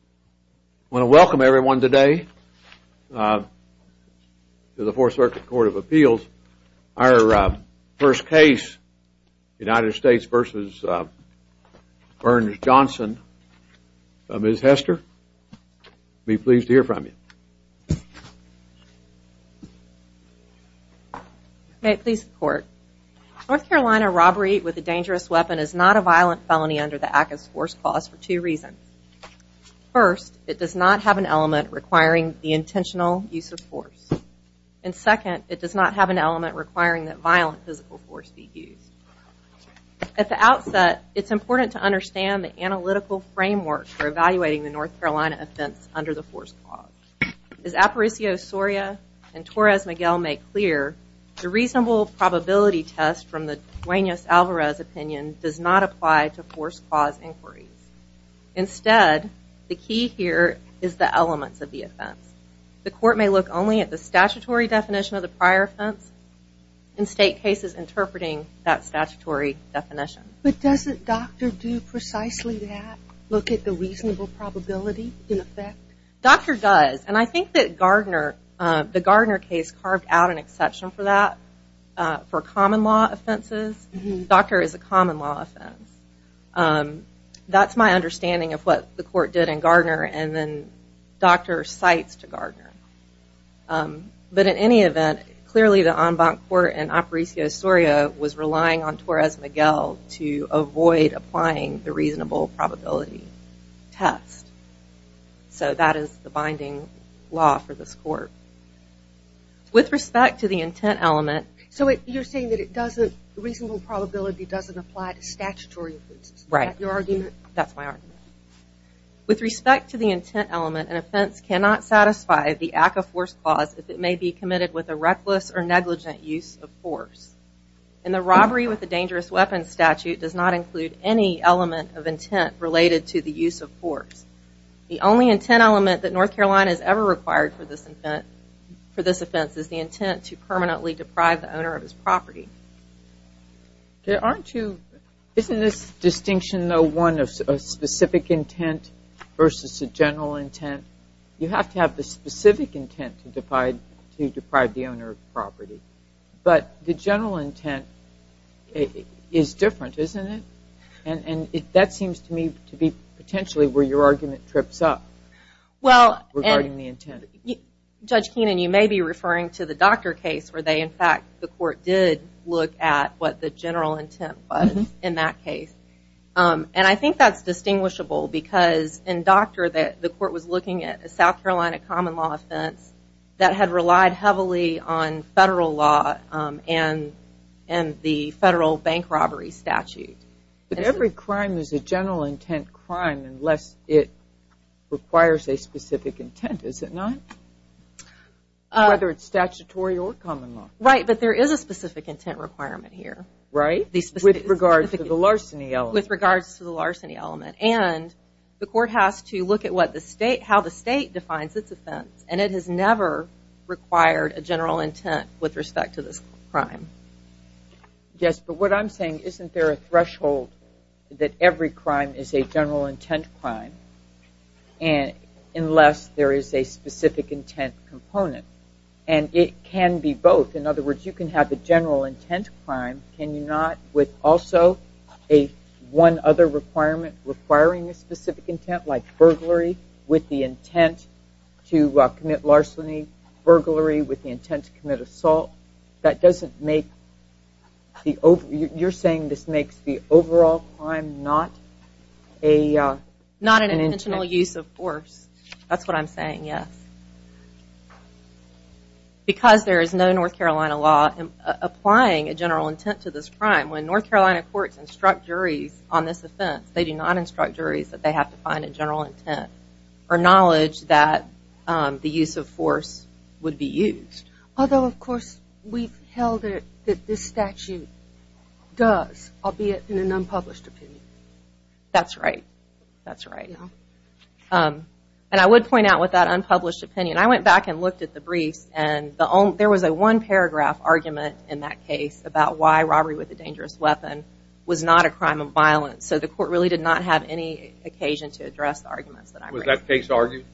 I want to welcome everyone today to the Fourth Circuit Court of Appeals. Our first case, United States v. Burns-Johnson. Ms. Hester, I'll be pleased to hear from you. May it please the Court. North Carolina robbery with a dangerous weapon is not a violent felony under the ACCA's force clause for two reasons. First, it does not have an element requiring the intentional use of force. And second, it does not have an element requiring that violent physical force be used. At the outset, it's important to understand the analytical framework for evaluating the North Carolina offense under the force clause. As Aparicio Soria and Torres Miguel make clear, the reasonable probability test from the Duenas-Alvarez opinion does not apply to force clause inquiries. Instead, the key here is the elements of the offense. The Court may look only at the statutory definition of the prior offense and state cases interpreting that statutory definition. But doesn't Dr. do precisely that, look at the reasonable probability in effect? Dr. does, and I think that Gardner, the Gardner case, carved out an exception for that for common law offenses. Dr. is a common law offense. That's my understanding of what the Court did in Gardner, and then Dr. cites to Gardner. But in any event, clearly the en banc court in Aparicio Soria was relying on Torres Miguel to avoid applying the reasonable probability test. So that is the binding law for this court. With respect to the intent element. So you're saying that it doesn't, reasonable probability doesn't apply to statutory offenses? Right. That's my argument. With respect to the intent element, an offense cannot satisfy the act of force clause if it may be committed with a reckless or negligent use of force. And the robbery with a dangerous weapon statute does not include any element of intent related to the use of force. The only intent element that North Carolina has ever required for this offense is the intent to permanently deprive the owner of his property. Isn't this distinction though one of specific intent versus a general intent? You have to have the specific intent to deprive the owner of property. But the general intent is different, isn't it? And that seems to me to be potentially where your argument trips up. Well, Judge Keenan, you may be referring to the Docker case where they in fact, the Court did look at what the general intent was in that case. And I think that's distinguishable because in Docker the Court was looking at a South Carolina common law offense that had relied heavily on federal law and the federal bank robbery statute. But every crime is a general intent crime unless it requires a specific intent, is it not? Whether it's statutory or common law. Right, but there is a specific intent requirement here. With regards to the larceny element. And the Court has to look at how the state defines its offense and it has never required a general intent with respect to this crime. Yes, but what I'm saying, isn't there a threshold that every crime is a general intent crime unless there is a specific intent component? And it can be both. In other words, you can have the general intent crime, can you not, with also a one other requirement requiring a specific intent like burglary with the intent to commit larceny, burglary with the intent to commit assault. That doesn't make the overall, you're saying this makes the overall crime not an intent? Not an intentional use of force. That's what I'm saying, yes. Because there is no North Carolina law applying a general intent to this crime, when North Carolina courts instruct juries on this offense, they do not instruct juries that they have to find a general intent or knowledge that the use of force would be used. Although of course we've held it that this statute does, albeit in an unpublished opinion. That's right, that's right. And I would point out with that unpublished opinion, I went back and looked at the briefs and there was a one paragraph argument in that case about why robbery with a dangerous weapon was not a crime of violence. So the court really did not have any occasion to address the arguments that I raised. Was that case argued?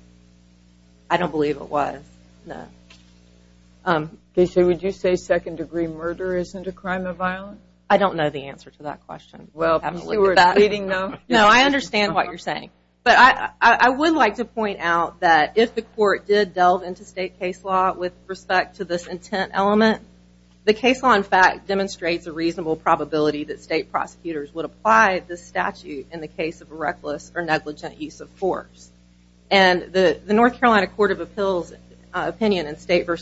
I don't believe it was, no. Okay, so would you say second degree murder isn't a crime of violence? I don't know the answer to that. I don't understand what you're saying. But I would like to point out that if the court did delve into state case law with respect to this intent element, the case law in fact demonstrates a reasonable probability that state prosecutors would apply this statute in the case of a reckless or negligent use of force. And the North Carolina Court of Appeals opinion in State v.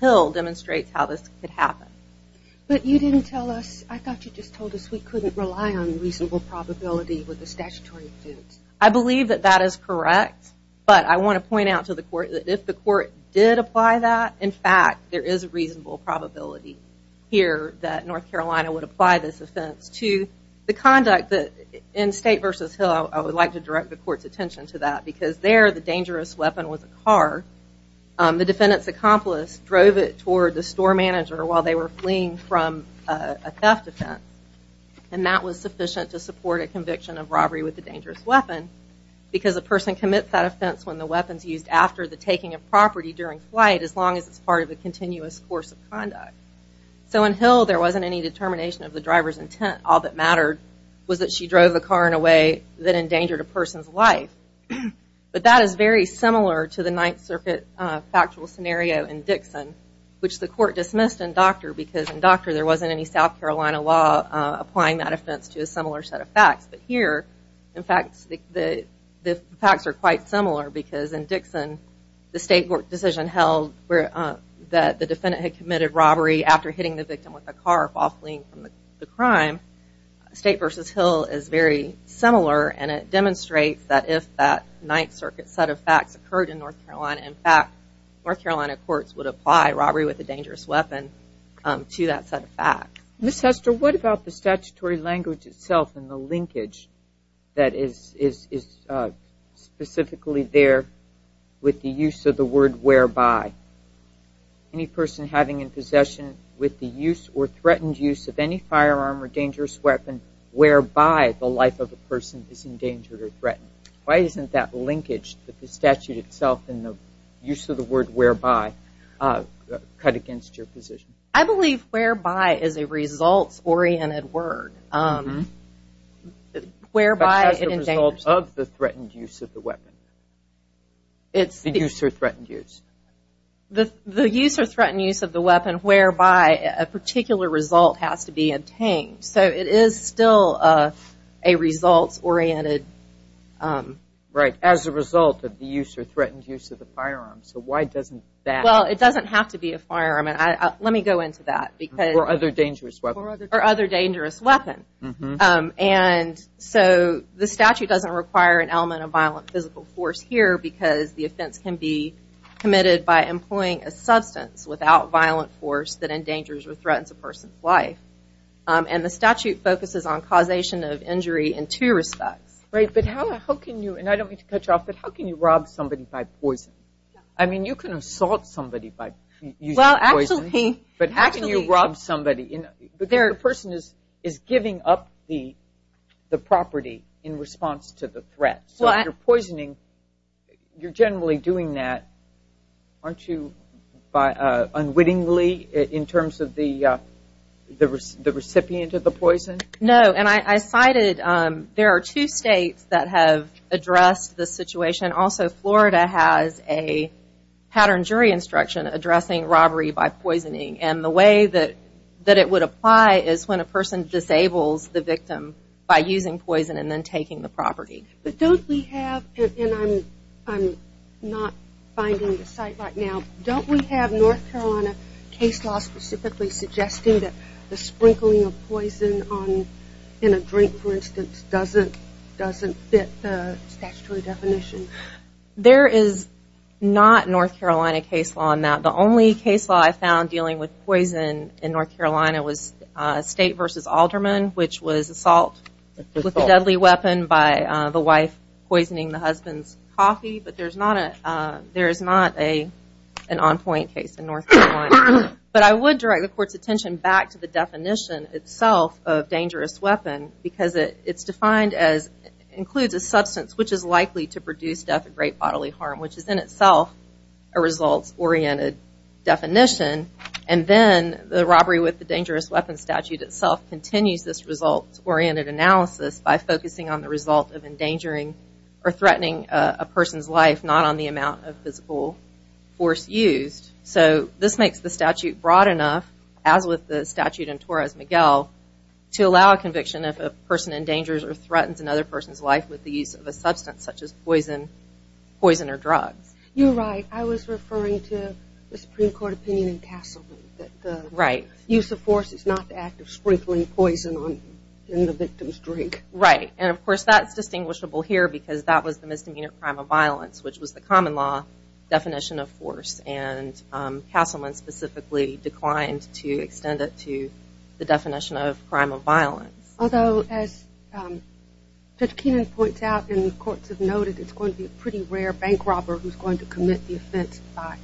Hill demonstrates how this could happen. But you didn't tell us, I thought you just told us we couldn't rely on reasonable probability with the statutory offense. I believe that that is correct, but I want to point out to the court that if the court did apply that, in fact there is a reasonable probability here that North Carolina would apply this offense to the conduct that in State v. Hill I would like to direct the court's attention to that because there the dangerous weapon was a car. The defendant's accomplice drove it toward the store manager while they were fleeing from a theft offense. And that was sufficient to support a conviction of robbery with a dangerous weapon because a person commits that offense when the weapon is used after the taking of property during flight as long as it's part of a continuous course of conduct. So in Hill there wasn't any determination of the driver's intent. All that mattered was that she drove the car in a way that endangered a person's life. But that is very similar to the Ninth Circuit factual scenario in Dixon which the court dismissed in Docter because in Docter there wasn't any South Carolina law applying that offense to a similar set of facts. But here in fact the facts are quite similar because in Dixon the State court decision held that the defendant had committed robbery after hitting the victim with a car while fleeing from the crime. State v. Hill is very similar and it demonstrates that if that Ninth Circuit set of facts occurred in North Carolina, in fact North Carolina courts would apply robbery with a dangerous weapon to that set of facts. Ms. Hester, what about the statutory language itself and the linkage that is specifically there with the use of the word whereby? Any person having in possession with the use or threatened use of any firearm or dangerous weapon whereby the life of a person is endangered or threatened? Why isn't that linkage with the statute itself and the use of the word whereby cut against your position? I believe whereby is a results oriented word. Whereby is the result of the threatened use of the weapon? The use or threatened use? The use or threatened use of the weapon whereby a particular result has to be obtained. So it is still a results oriented. As a result of the use or threatened use of the firearm, so why doesn't that? It doesn't have to be a firearm. Let me go into that. Or other dangerous weapon. Or other dangerous weapon. So the statute doesn't require an element of violent physical force here because the offense can be committed by employing a substance without violent force that endangers or threatens a person's life. And the statute focuses on causation of injury in two respects. Right, but how can you, and I don't mean to cut you off, but how can you rob somebody by poison? I mean you can assault somebody by using poison. Well, actually. But how can you rob somebody? The person is giving up the property in response to the threat. So if you're poisoning, you're generally doing that, aren't you, by unwittingly? In terms of the recipient of the poison? No, and I cited, there are two states that have addressed this situation. Also, Florida has a pattern jury instruction addressing robbery by poisoning. And the way that it would apply is when a person disables the victim by using poison and then taking the property. But don't we have, and I'm not finding the site right now, don't we have North Carolina case law specifically suggesting that the sprinkling of poison in a drink, for instance, doesn't fit the statutory definition? There is not North Carolina case law on that. The only case law I found dealing with poison in North Carolina was State v. Alderman, which was assault with a deadly weapon by the wife poisoning the husband's coffee. But there is not an on-point case in North Carolina. But I would direct the court's attention back to the definition itself of dangerous weapon because it's defined as, includes a substance which is likely to produce death and great bodily harm, which is in itself a results-oriented definition. And then the robbery with the dangerous weapon statute itself continues this results-oriented analysis by focusing on the result of endangering or threatening a person's life, not on the amount of physical force used. So this makes the statute broad enough, as with the statute in Torres-Miguel, to allow a conviction if a person endangers or threatens another person's life with the use of a substance such as poison or drugs. You're right. I was referring to the Supreme Court opinion in Casselby that the use of force is not the act of sprinkling poison in the victim's drink. Right. And of course that's distinguishable here because that was the misdemeanor crime of violence, which was the common law definition of force. And Casselman specifically declined to extend it to the definition of crime of violence. Although, as Judge Keenan points out and the courts have noted, it's going to be a pretty rare bank robber who's going to commit the offense by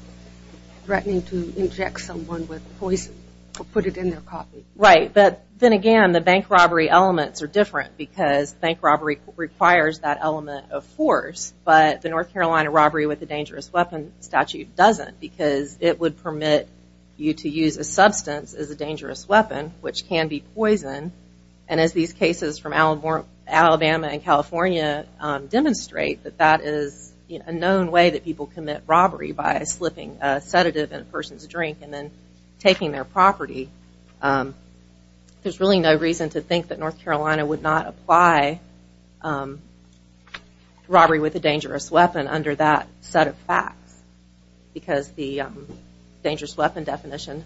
threatening to inject someone with poison or put it in their coffee. Right. But then again, the bank robbery elements are different because bank robbery requires that element of force. But the North Carolina robbery with a dangerous weapon statute doesn't because it would permit you to use a substance as a dangerous weapon, which can be poison. And as these cases from Alabama and California demonstrate, that that is a known way that people commit robbery by slipping a sedative in a person's drink and then taking their There's really no reason to think that North Carolina would not apply robbery with a dangerous weapon under that set of facts because the dangerous weapon definition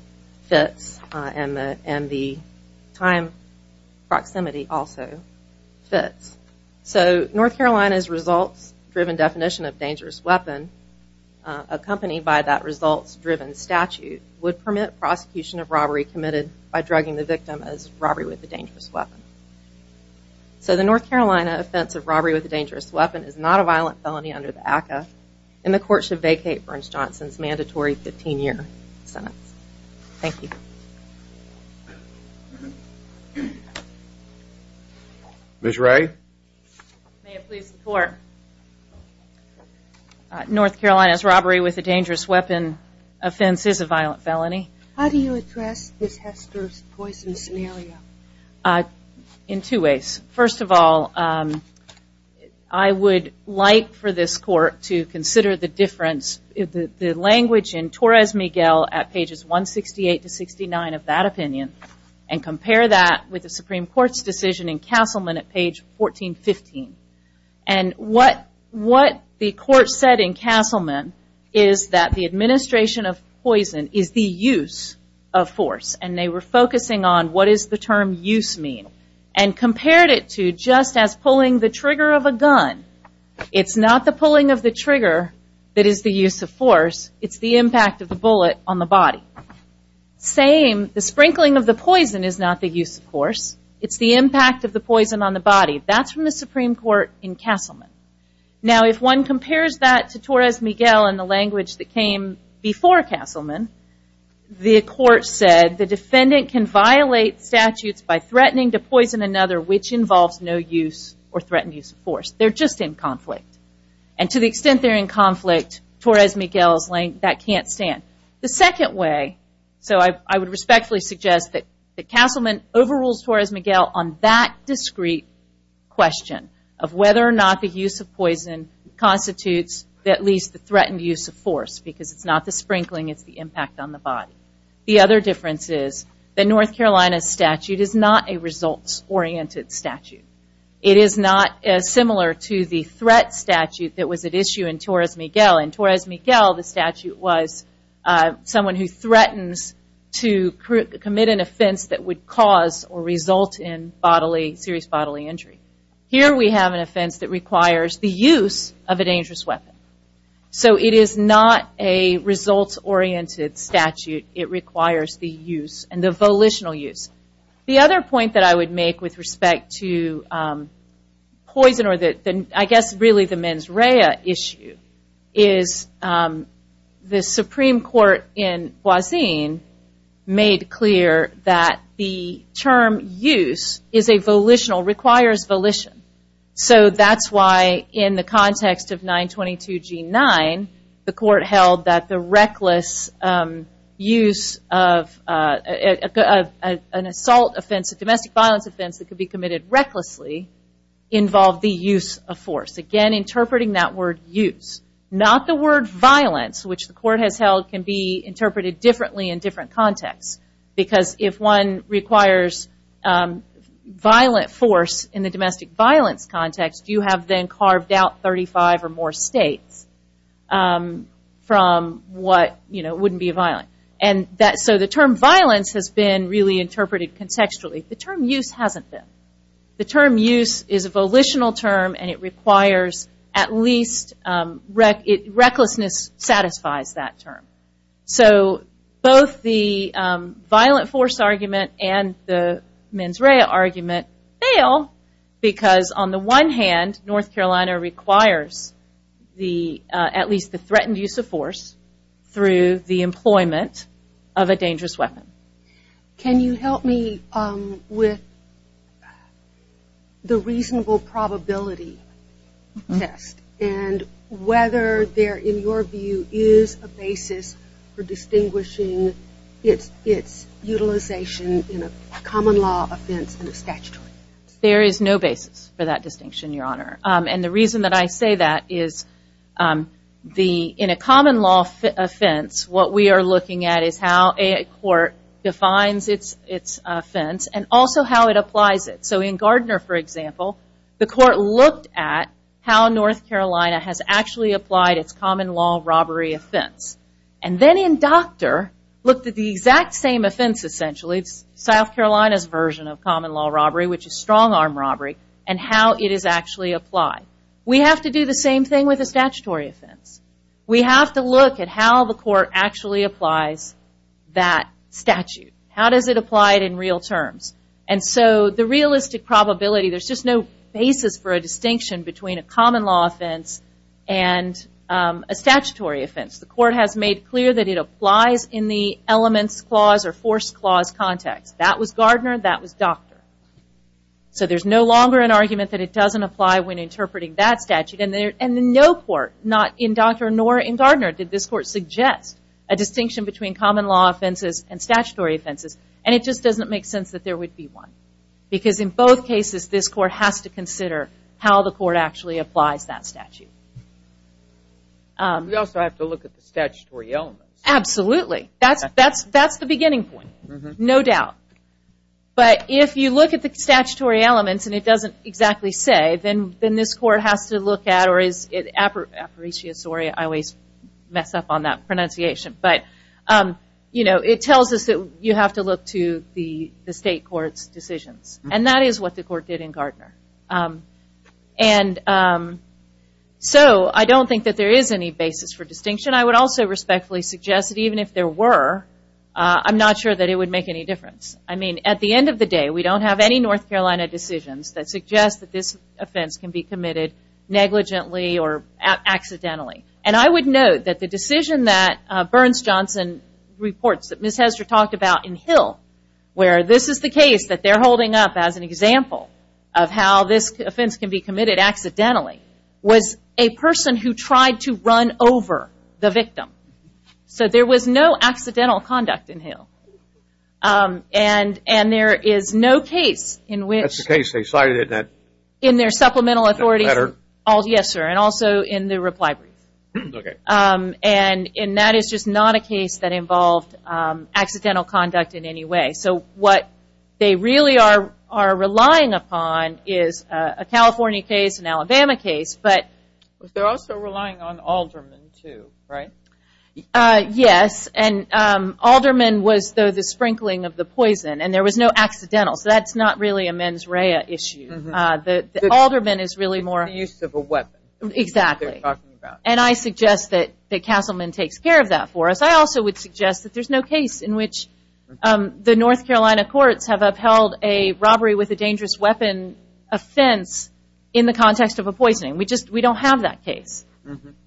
fits and the time proximity also fits. So North Carolina's results driven definition of dangerous weapon accompanied by that results driven statute would permit prosecution of robbery committed by drugging the victim as robbery with a dangerous weapon. So the North Carolina offense of robbery with a dangerous weapon is not a violent felony under the ACCA and the court should vacate Burns Johnson's mandatory 15 year sentence. Thank you. Ms. Ray. May it please the court. North Carolina's robbery with a dangerous weapon offense is a violent felony. How do you address this Hester's poison scenario? In two ways. First of all, I would like for this court to consider the difference, the language in Torres Miguel at pages 168 to 69 of that opinion and compare that with the Supreme Court's decision in Castleman at page 1415 and what the court said in Castleman is that the administration of poison is the use of force and they were focusing on what is the term use mean and compared it to just as pulling the trigger of a gun. It's not the pulling of the trigger that is the use of force. It's the impact of the bullet on the body. Same, the sprinkling of the poison is not the use of force. It's the impact of the poison on the body. That's from the Supreme Court in Castleman. Now if one compares that to Torres Miguel and the language that came before Castleman, the court said the defendant can violate statutes by threatening to poison another which involves no use or threatened use of force. They're just in conflict. And to the extent they're in conflict, Torres Miguel's length, that can't stand. The second way, so I would respectfully suggest that Castleman overrules Torres Miguel on that discrete question of whether or not the use of poison constitutes at least the threatened use of force because it's not the sprinkling, it's the impact on the body. The other difference is that North Carolina's statute is not a results-oriented statute. It is not similar to the threat statute that was at issue in Torres Miguel. In Torres Miguel, the statute was someone who threatens to commit an offense that would cause or result in serious bodily injury. Here we have an offense that requires the use of a dangerous weapon. So it is not a results-oriented statute. It requires the use and the volitional use. The other point that I would make with respect to poison or I guess really the mens rea issue is the Supreme Court in Boise made clear that the term use is a volitional, requires volition. So that's why in the context of 922G9, the court held that the reckless use of an assault offense, a domestic violence offense that could be committed recklessly involved the use of force. Again, interpreting that word use, not the word violence, which the court has held can be interpreted differently in different contexts. Because if one requires violent force in the domestic violence context, you have then carved out 35 or more states from what wouldn't be violent. So the term violence has been really interpreted contextually. The term use hasn't been. The term use is a volitional term and it requires at least, recklessness satisfies that term. So both the violent force argument and the mens rea argument fail because on the one hand North Carolina requires at least the threatened use of force through the employment of a dangerous weapon. Can you help me with the reasonable probability test and whether there in your view is a basis for distinguishing its utilization in a common law offense and a statutory offense? There is no basis for that distinction, Your Honor. And the reason that I say that is in a common law offense, what we are looking at is how a court defines its offense and also how it applies it. So in Gardner, for example, the court looked at how North Carolina has actually applied its common law robbery offense. And then in Doctor, looked at the exact same offense essentially, South Carolina's version of common law robbery, which is strong arm robbery, and how it is actually applied. We have to do the same thing with a statutory offense. We have to look at how the court actually applies that statute. How does it apply it in real terms? And so the realistic probability, there is just no basis for a distinction between a common law offense and a statutory offense. The court has made clear that it applies in the elements clause or force clause context. That was Gardner, that was Doctor. So there is no longer an argument that it doesn't apply when interpreting that statute. And in no court, not in Doctor nor in Gardner, did this court suggest a distinction between common law offenses and statutory offenses. And it just doesn't make sense that there would be one. Because in both cases, this court has to consider how the court actually applies that statute. We also have to look at the statutory elements. Absolutely. That's the beginning point. No doubt. But if you look at the statutory elements and it doesn't exactly say, then this court has to look at, or it tells us that you have to look to the state court's decisions. And that is what the court did in Gardner. And so I don't think that there is any basis for distinction. I would also respectfully suggest that even if there were, I'm not sure that it would make any difference. At the end of the day, we don't have any North Carolina decisions that suggest that this negligently or accidentally. And I would note that the decision that Burns-Johnson reports that Ms. Hester talked about in Hill, where this is the case that they're holding up as an example of how this offense can be committed accidentally, was a person who tried to run over the victim. So there was no accidental conduct in Hill. And there is no case in which... That's the case they cited that... Yes, sir. And also in the reply brief. And that is just not a case that involved accidental conduct in any way. So what they really are relying upon is a California case, an Alabama case, but... They're also relying on aldermen too, right? Yes. And aldermen was the sprinkling of the poison. And there was no accidental. So that's not really a mens rea issue. Aldermen is really more... It's the use of a weapon. Exactly. And I suggest that Castleman takes care of that for us. I also would suggest that there's no case in which the North Carolina courts have upheld a robbery with a dangerous weapon offense in the context of a poisoning. We don't have that case.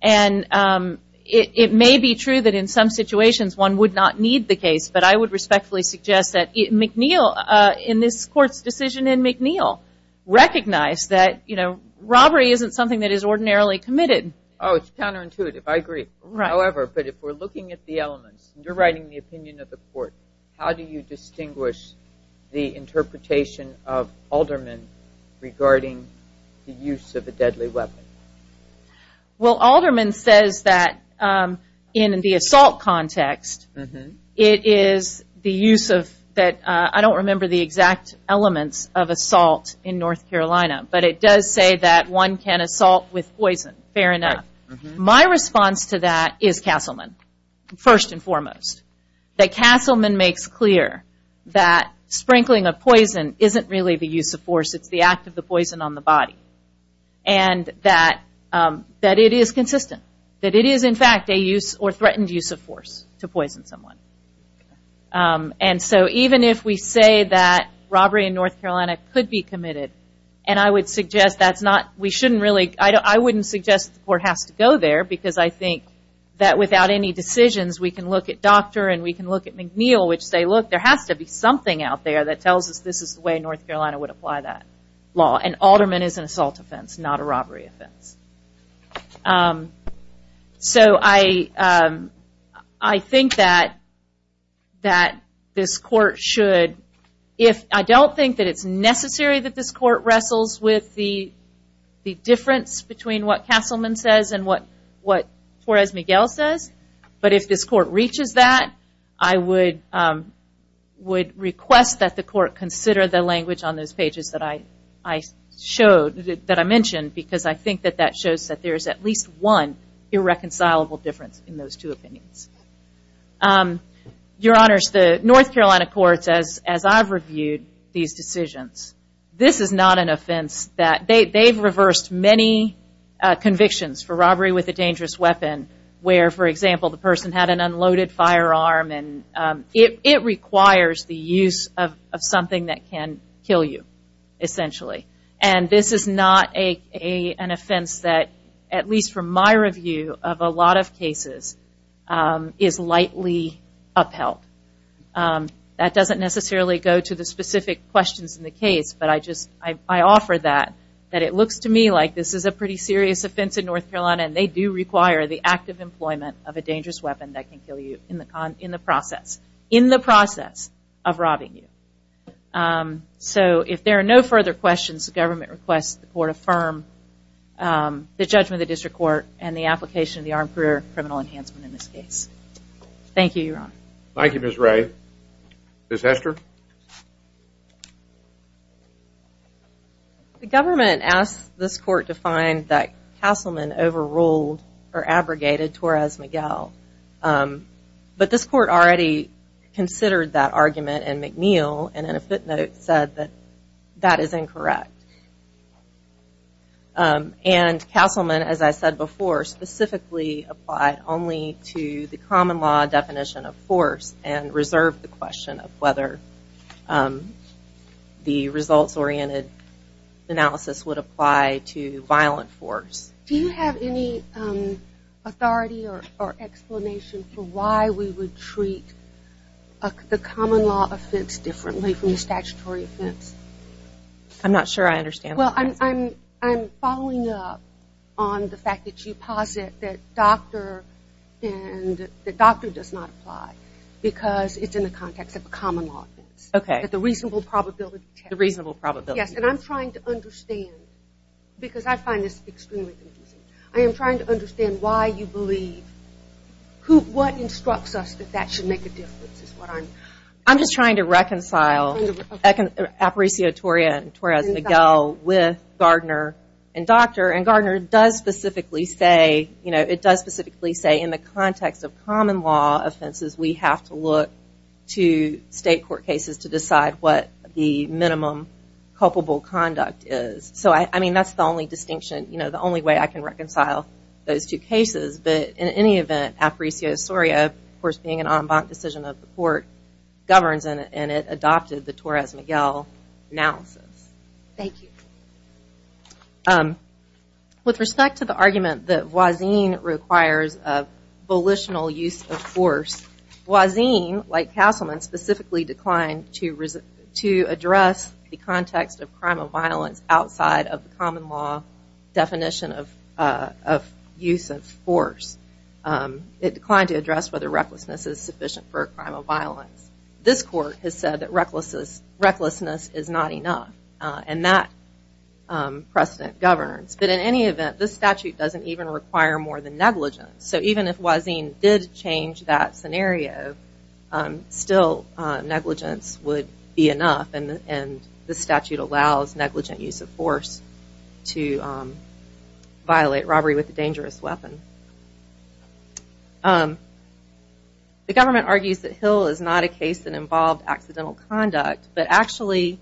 And it may be true that in some situations one would not need the case, but I would respectfully suggest that McNeil, in this court's decision in McNeil, recognized that robbery isn't something that is ordinarily committed. Oh, it's counterintuitive. I agree. However, but if we're looking at the elements, and you're writing the opinion of the court, how do you distinguish the interpretation of aldermen regarding the use of a deadly weapon? Well, aldermen says that in the assault context, it is the use of... I don't remember the exact elements of assault in North Carolina, but it does say that one can assault with poison, fair enough. My response to that is Castleman, first and foremost. That Castleman makes clear that sprinkling of poison isn't really the use of force. It's the act of the poison on the body. And that it is consistent. That it is, in fact, a use or threatened use of force to poison someone. And so even if we say that robbery in North Carolina could be committed, and I would suggest that's not... We shouldn't really... I wouldn't suggest the court has to go there, because I think that without any decisions, we can look at Docter and we can look at McNeil, which say, look, there has to be something out there that tells us this is the way North Carolina would apply that law. An alderman is an assault offense, not a robbery offense. So I think that this court should... I don't think that it's necessary that this court wrestles with the difference between what Castleman says and what Torres-Miguel says, but if this court reaches that, I would request that the court consider the language on those pages that I showed, that I mentioned, because I think that that shows that there is at least one irreconcilable difference in those two opinions. Your Honors, the North Carolina courts, as I've reviewed these decisions, this is not an offense that... They've reversed many convictions for robbery with a dangerous weapon, where, for example, the person had an unloaded firearm. It requires the use of something that can kill you, essentially. This is not an offense that, at least from my review of a lot of cases, is lightly upheld. That doesn't necessarily go to the specific questions in the case, but I offer that. It looks to me like this is a pretty serious offense in North Carolina, and they do require the active employment of a dangerous weapon that can kill you in the process, in the process of robbing you. So if there are no further questions, the government requests the court affirm the judgment of the District Court and the application of the Armed Career Criminal Enhancement in this case. Thank you, Your Honor. Thank you, Ms. Ray. Ms. Hester? The government asked this court to find that Castleman overruled or abrogated Torres-Miguel, but this court already considered that argument in McNeil, and in a footnote said that that is incorrect. And Castleman, as I said before, specifically applied only to the common law definition of force and reserved the question of whether the results-oriented analysis would apply to violent force. Do you have any authority or explanation for why we would treat the common law offense differently from the statutory offense? I'm not sure I understand the question. Well, I'm following up on the fact that you posit that doctor and that doctor does not apply because it's in the context of a common law offense, that the reasonable probability test. The reasonable probability test. Yes, and I'm trying to understand, because I find this extremely confusing, I am trying to understand why you believe, who, what instructs us that that should make a difference is what I'm... I'm just trying to reconcile Aparicio-Torres-Miguel with Gardner and doctor, and Gardner does specifically say, you know, it does specifically say in the context of common law offenses we have to look to state court cases to decide what the minimum culpable conduct is. So I mean, that's the only distinction, you know, the only way I can reconcile those two cases. But in any event, Aparicio-Torres-Miguel, of course being an en banc decision of the court, governs and it adopted the Torres-Miguel analysis. Thank you. With respect to the argument that voisine requires a volitional use of force, voisine, like Castleman, specifically declined to address the context of crime of violence outside of common law definition of use of force. It declined to address whether recklessness is sufficient for a crime of violence. This court has said that recklessness is not enough, and that precedent governs. But in any event, this statute doesn't even require more than negligence. So even if voisine did change that scenario, still negligence would be enough and the statute allows negligent use of force to violate robbery with a dangerous weapon. The government argues that Hill is not a case that involved accidental conduct, but actually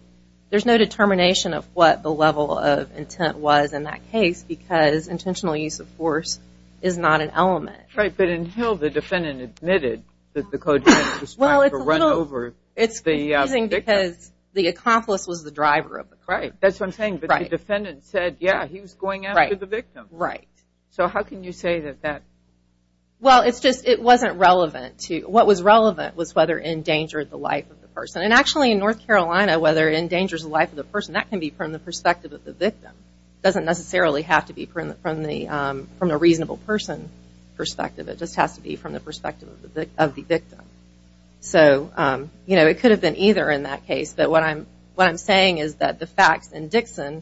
there's no determination of what the level of intent was in that case, because intentional use of force is not an element. Right, but in Hill the defendant admitted that the code had prescribed a run over. It's confusing because the accomplice was the driver of the crime. Right, that's what I'm saying, but the defendant said, yeah, he was going after the victim. Right. So how can you say that that... Well it's just, it wasn't relevant to, what was relevant was whether it endangered the life of the person. And actually in North Carolina, whether it endangers the life of the person, that can be from the perspective of the victim. Doesn't necessarily have to be from the, from the reasonable person perspective. It just has to be from the perspective of the victim. So, you know, it could have been either in that case, but what I'm, what I'm saying is that the facts in Dixon,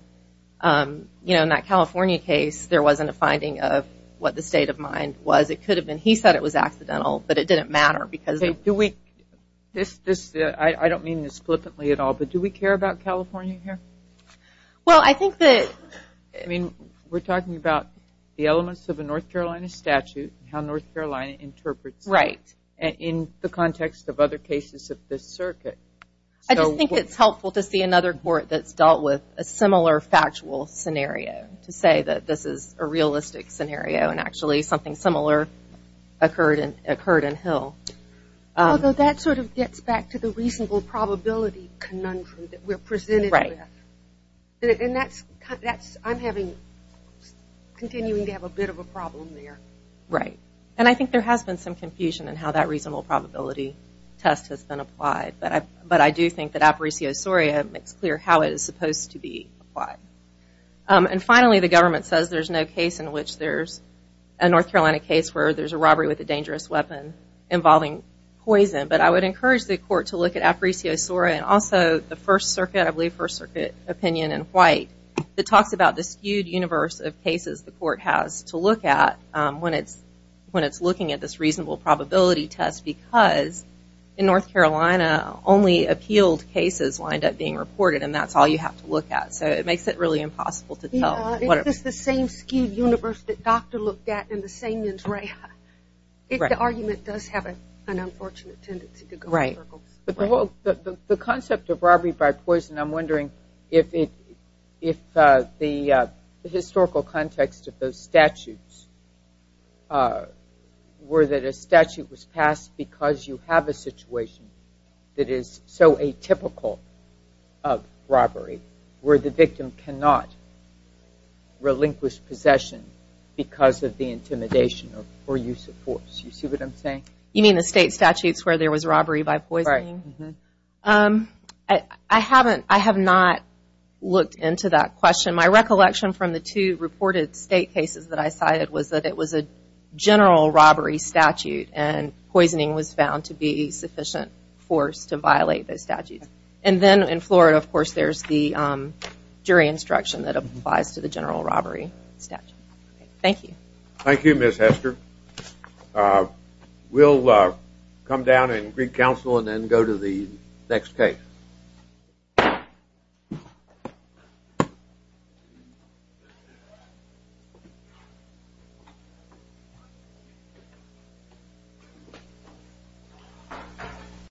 you know, in that California case, there wasn't a finding of what the state of mind was. It could have been, he said it was accidental, but it didn't matter because... Do we, this, this, I don't mean this flippantly at all, but do we care about California here? Well, I think that... I mean, we're talking about the elements of a North Carolina statute and how North Carolina interprets... The context of other cases of this circuit. I just think it's helpful to see another court that's dealt with a similar factual scenario to say that this is a realistic scenario and actually something similar occurred in, occurred in Hill. Although that sort of gets back to the reasonable probability conundrum that we're presented with. Right. And that's, that's, I'm having, continuing to have a bit of a problem there. Right. And I think there has been some confusion in how that reasonable probability test has been applied, but I, but I do think that aparesiosoria makes clear how it is supposed to be applied. And finally, the government says there's no case in which there's a North Carolina case where there's a robbery with a dangerous weapon involving poison, but I would encourage the court to look at aparesiosoria and also the First Circuit, I believe First Circuit opinion in white that talks about the skewed universe of cases the court has to look at when it's, when it's looking at this reasonable probability test because in North Carolina, only appealed cases wind up being reported and that's all you have to look at. So it makes it really impossible to tell. No, it's just the same skewed universe that Dr. looked at in the Samian's Reha. Right. If the argument does have an unfortunate tendency to go in circles. Right. But the whole, the concept of robbery by poison, I'm wondering if it, if the historical context of those statutes were that a statute was passed because you have a situation that is so atypical of robbery where the victim cannot relinquish possession because of the intimidation or use of force. You see what I'm saying? You mean the state statutes where there was robbery by poisoning? Right. I haven't, I have not looked into that question. My recollection from the two reported state cases that I cited was that it was a general robbery statute and poisoning was found to be sufficient force to violate those statutes. And then in Florida, of course, there's the jury instruction that applies to the general robbery statute. Thank you. Thank you, Ms. Hester. We'll come down and read counsel and then go to the next case.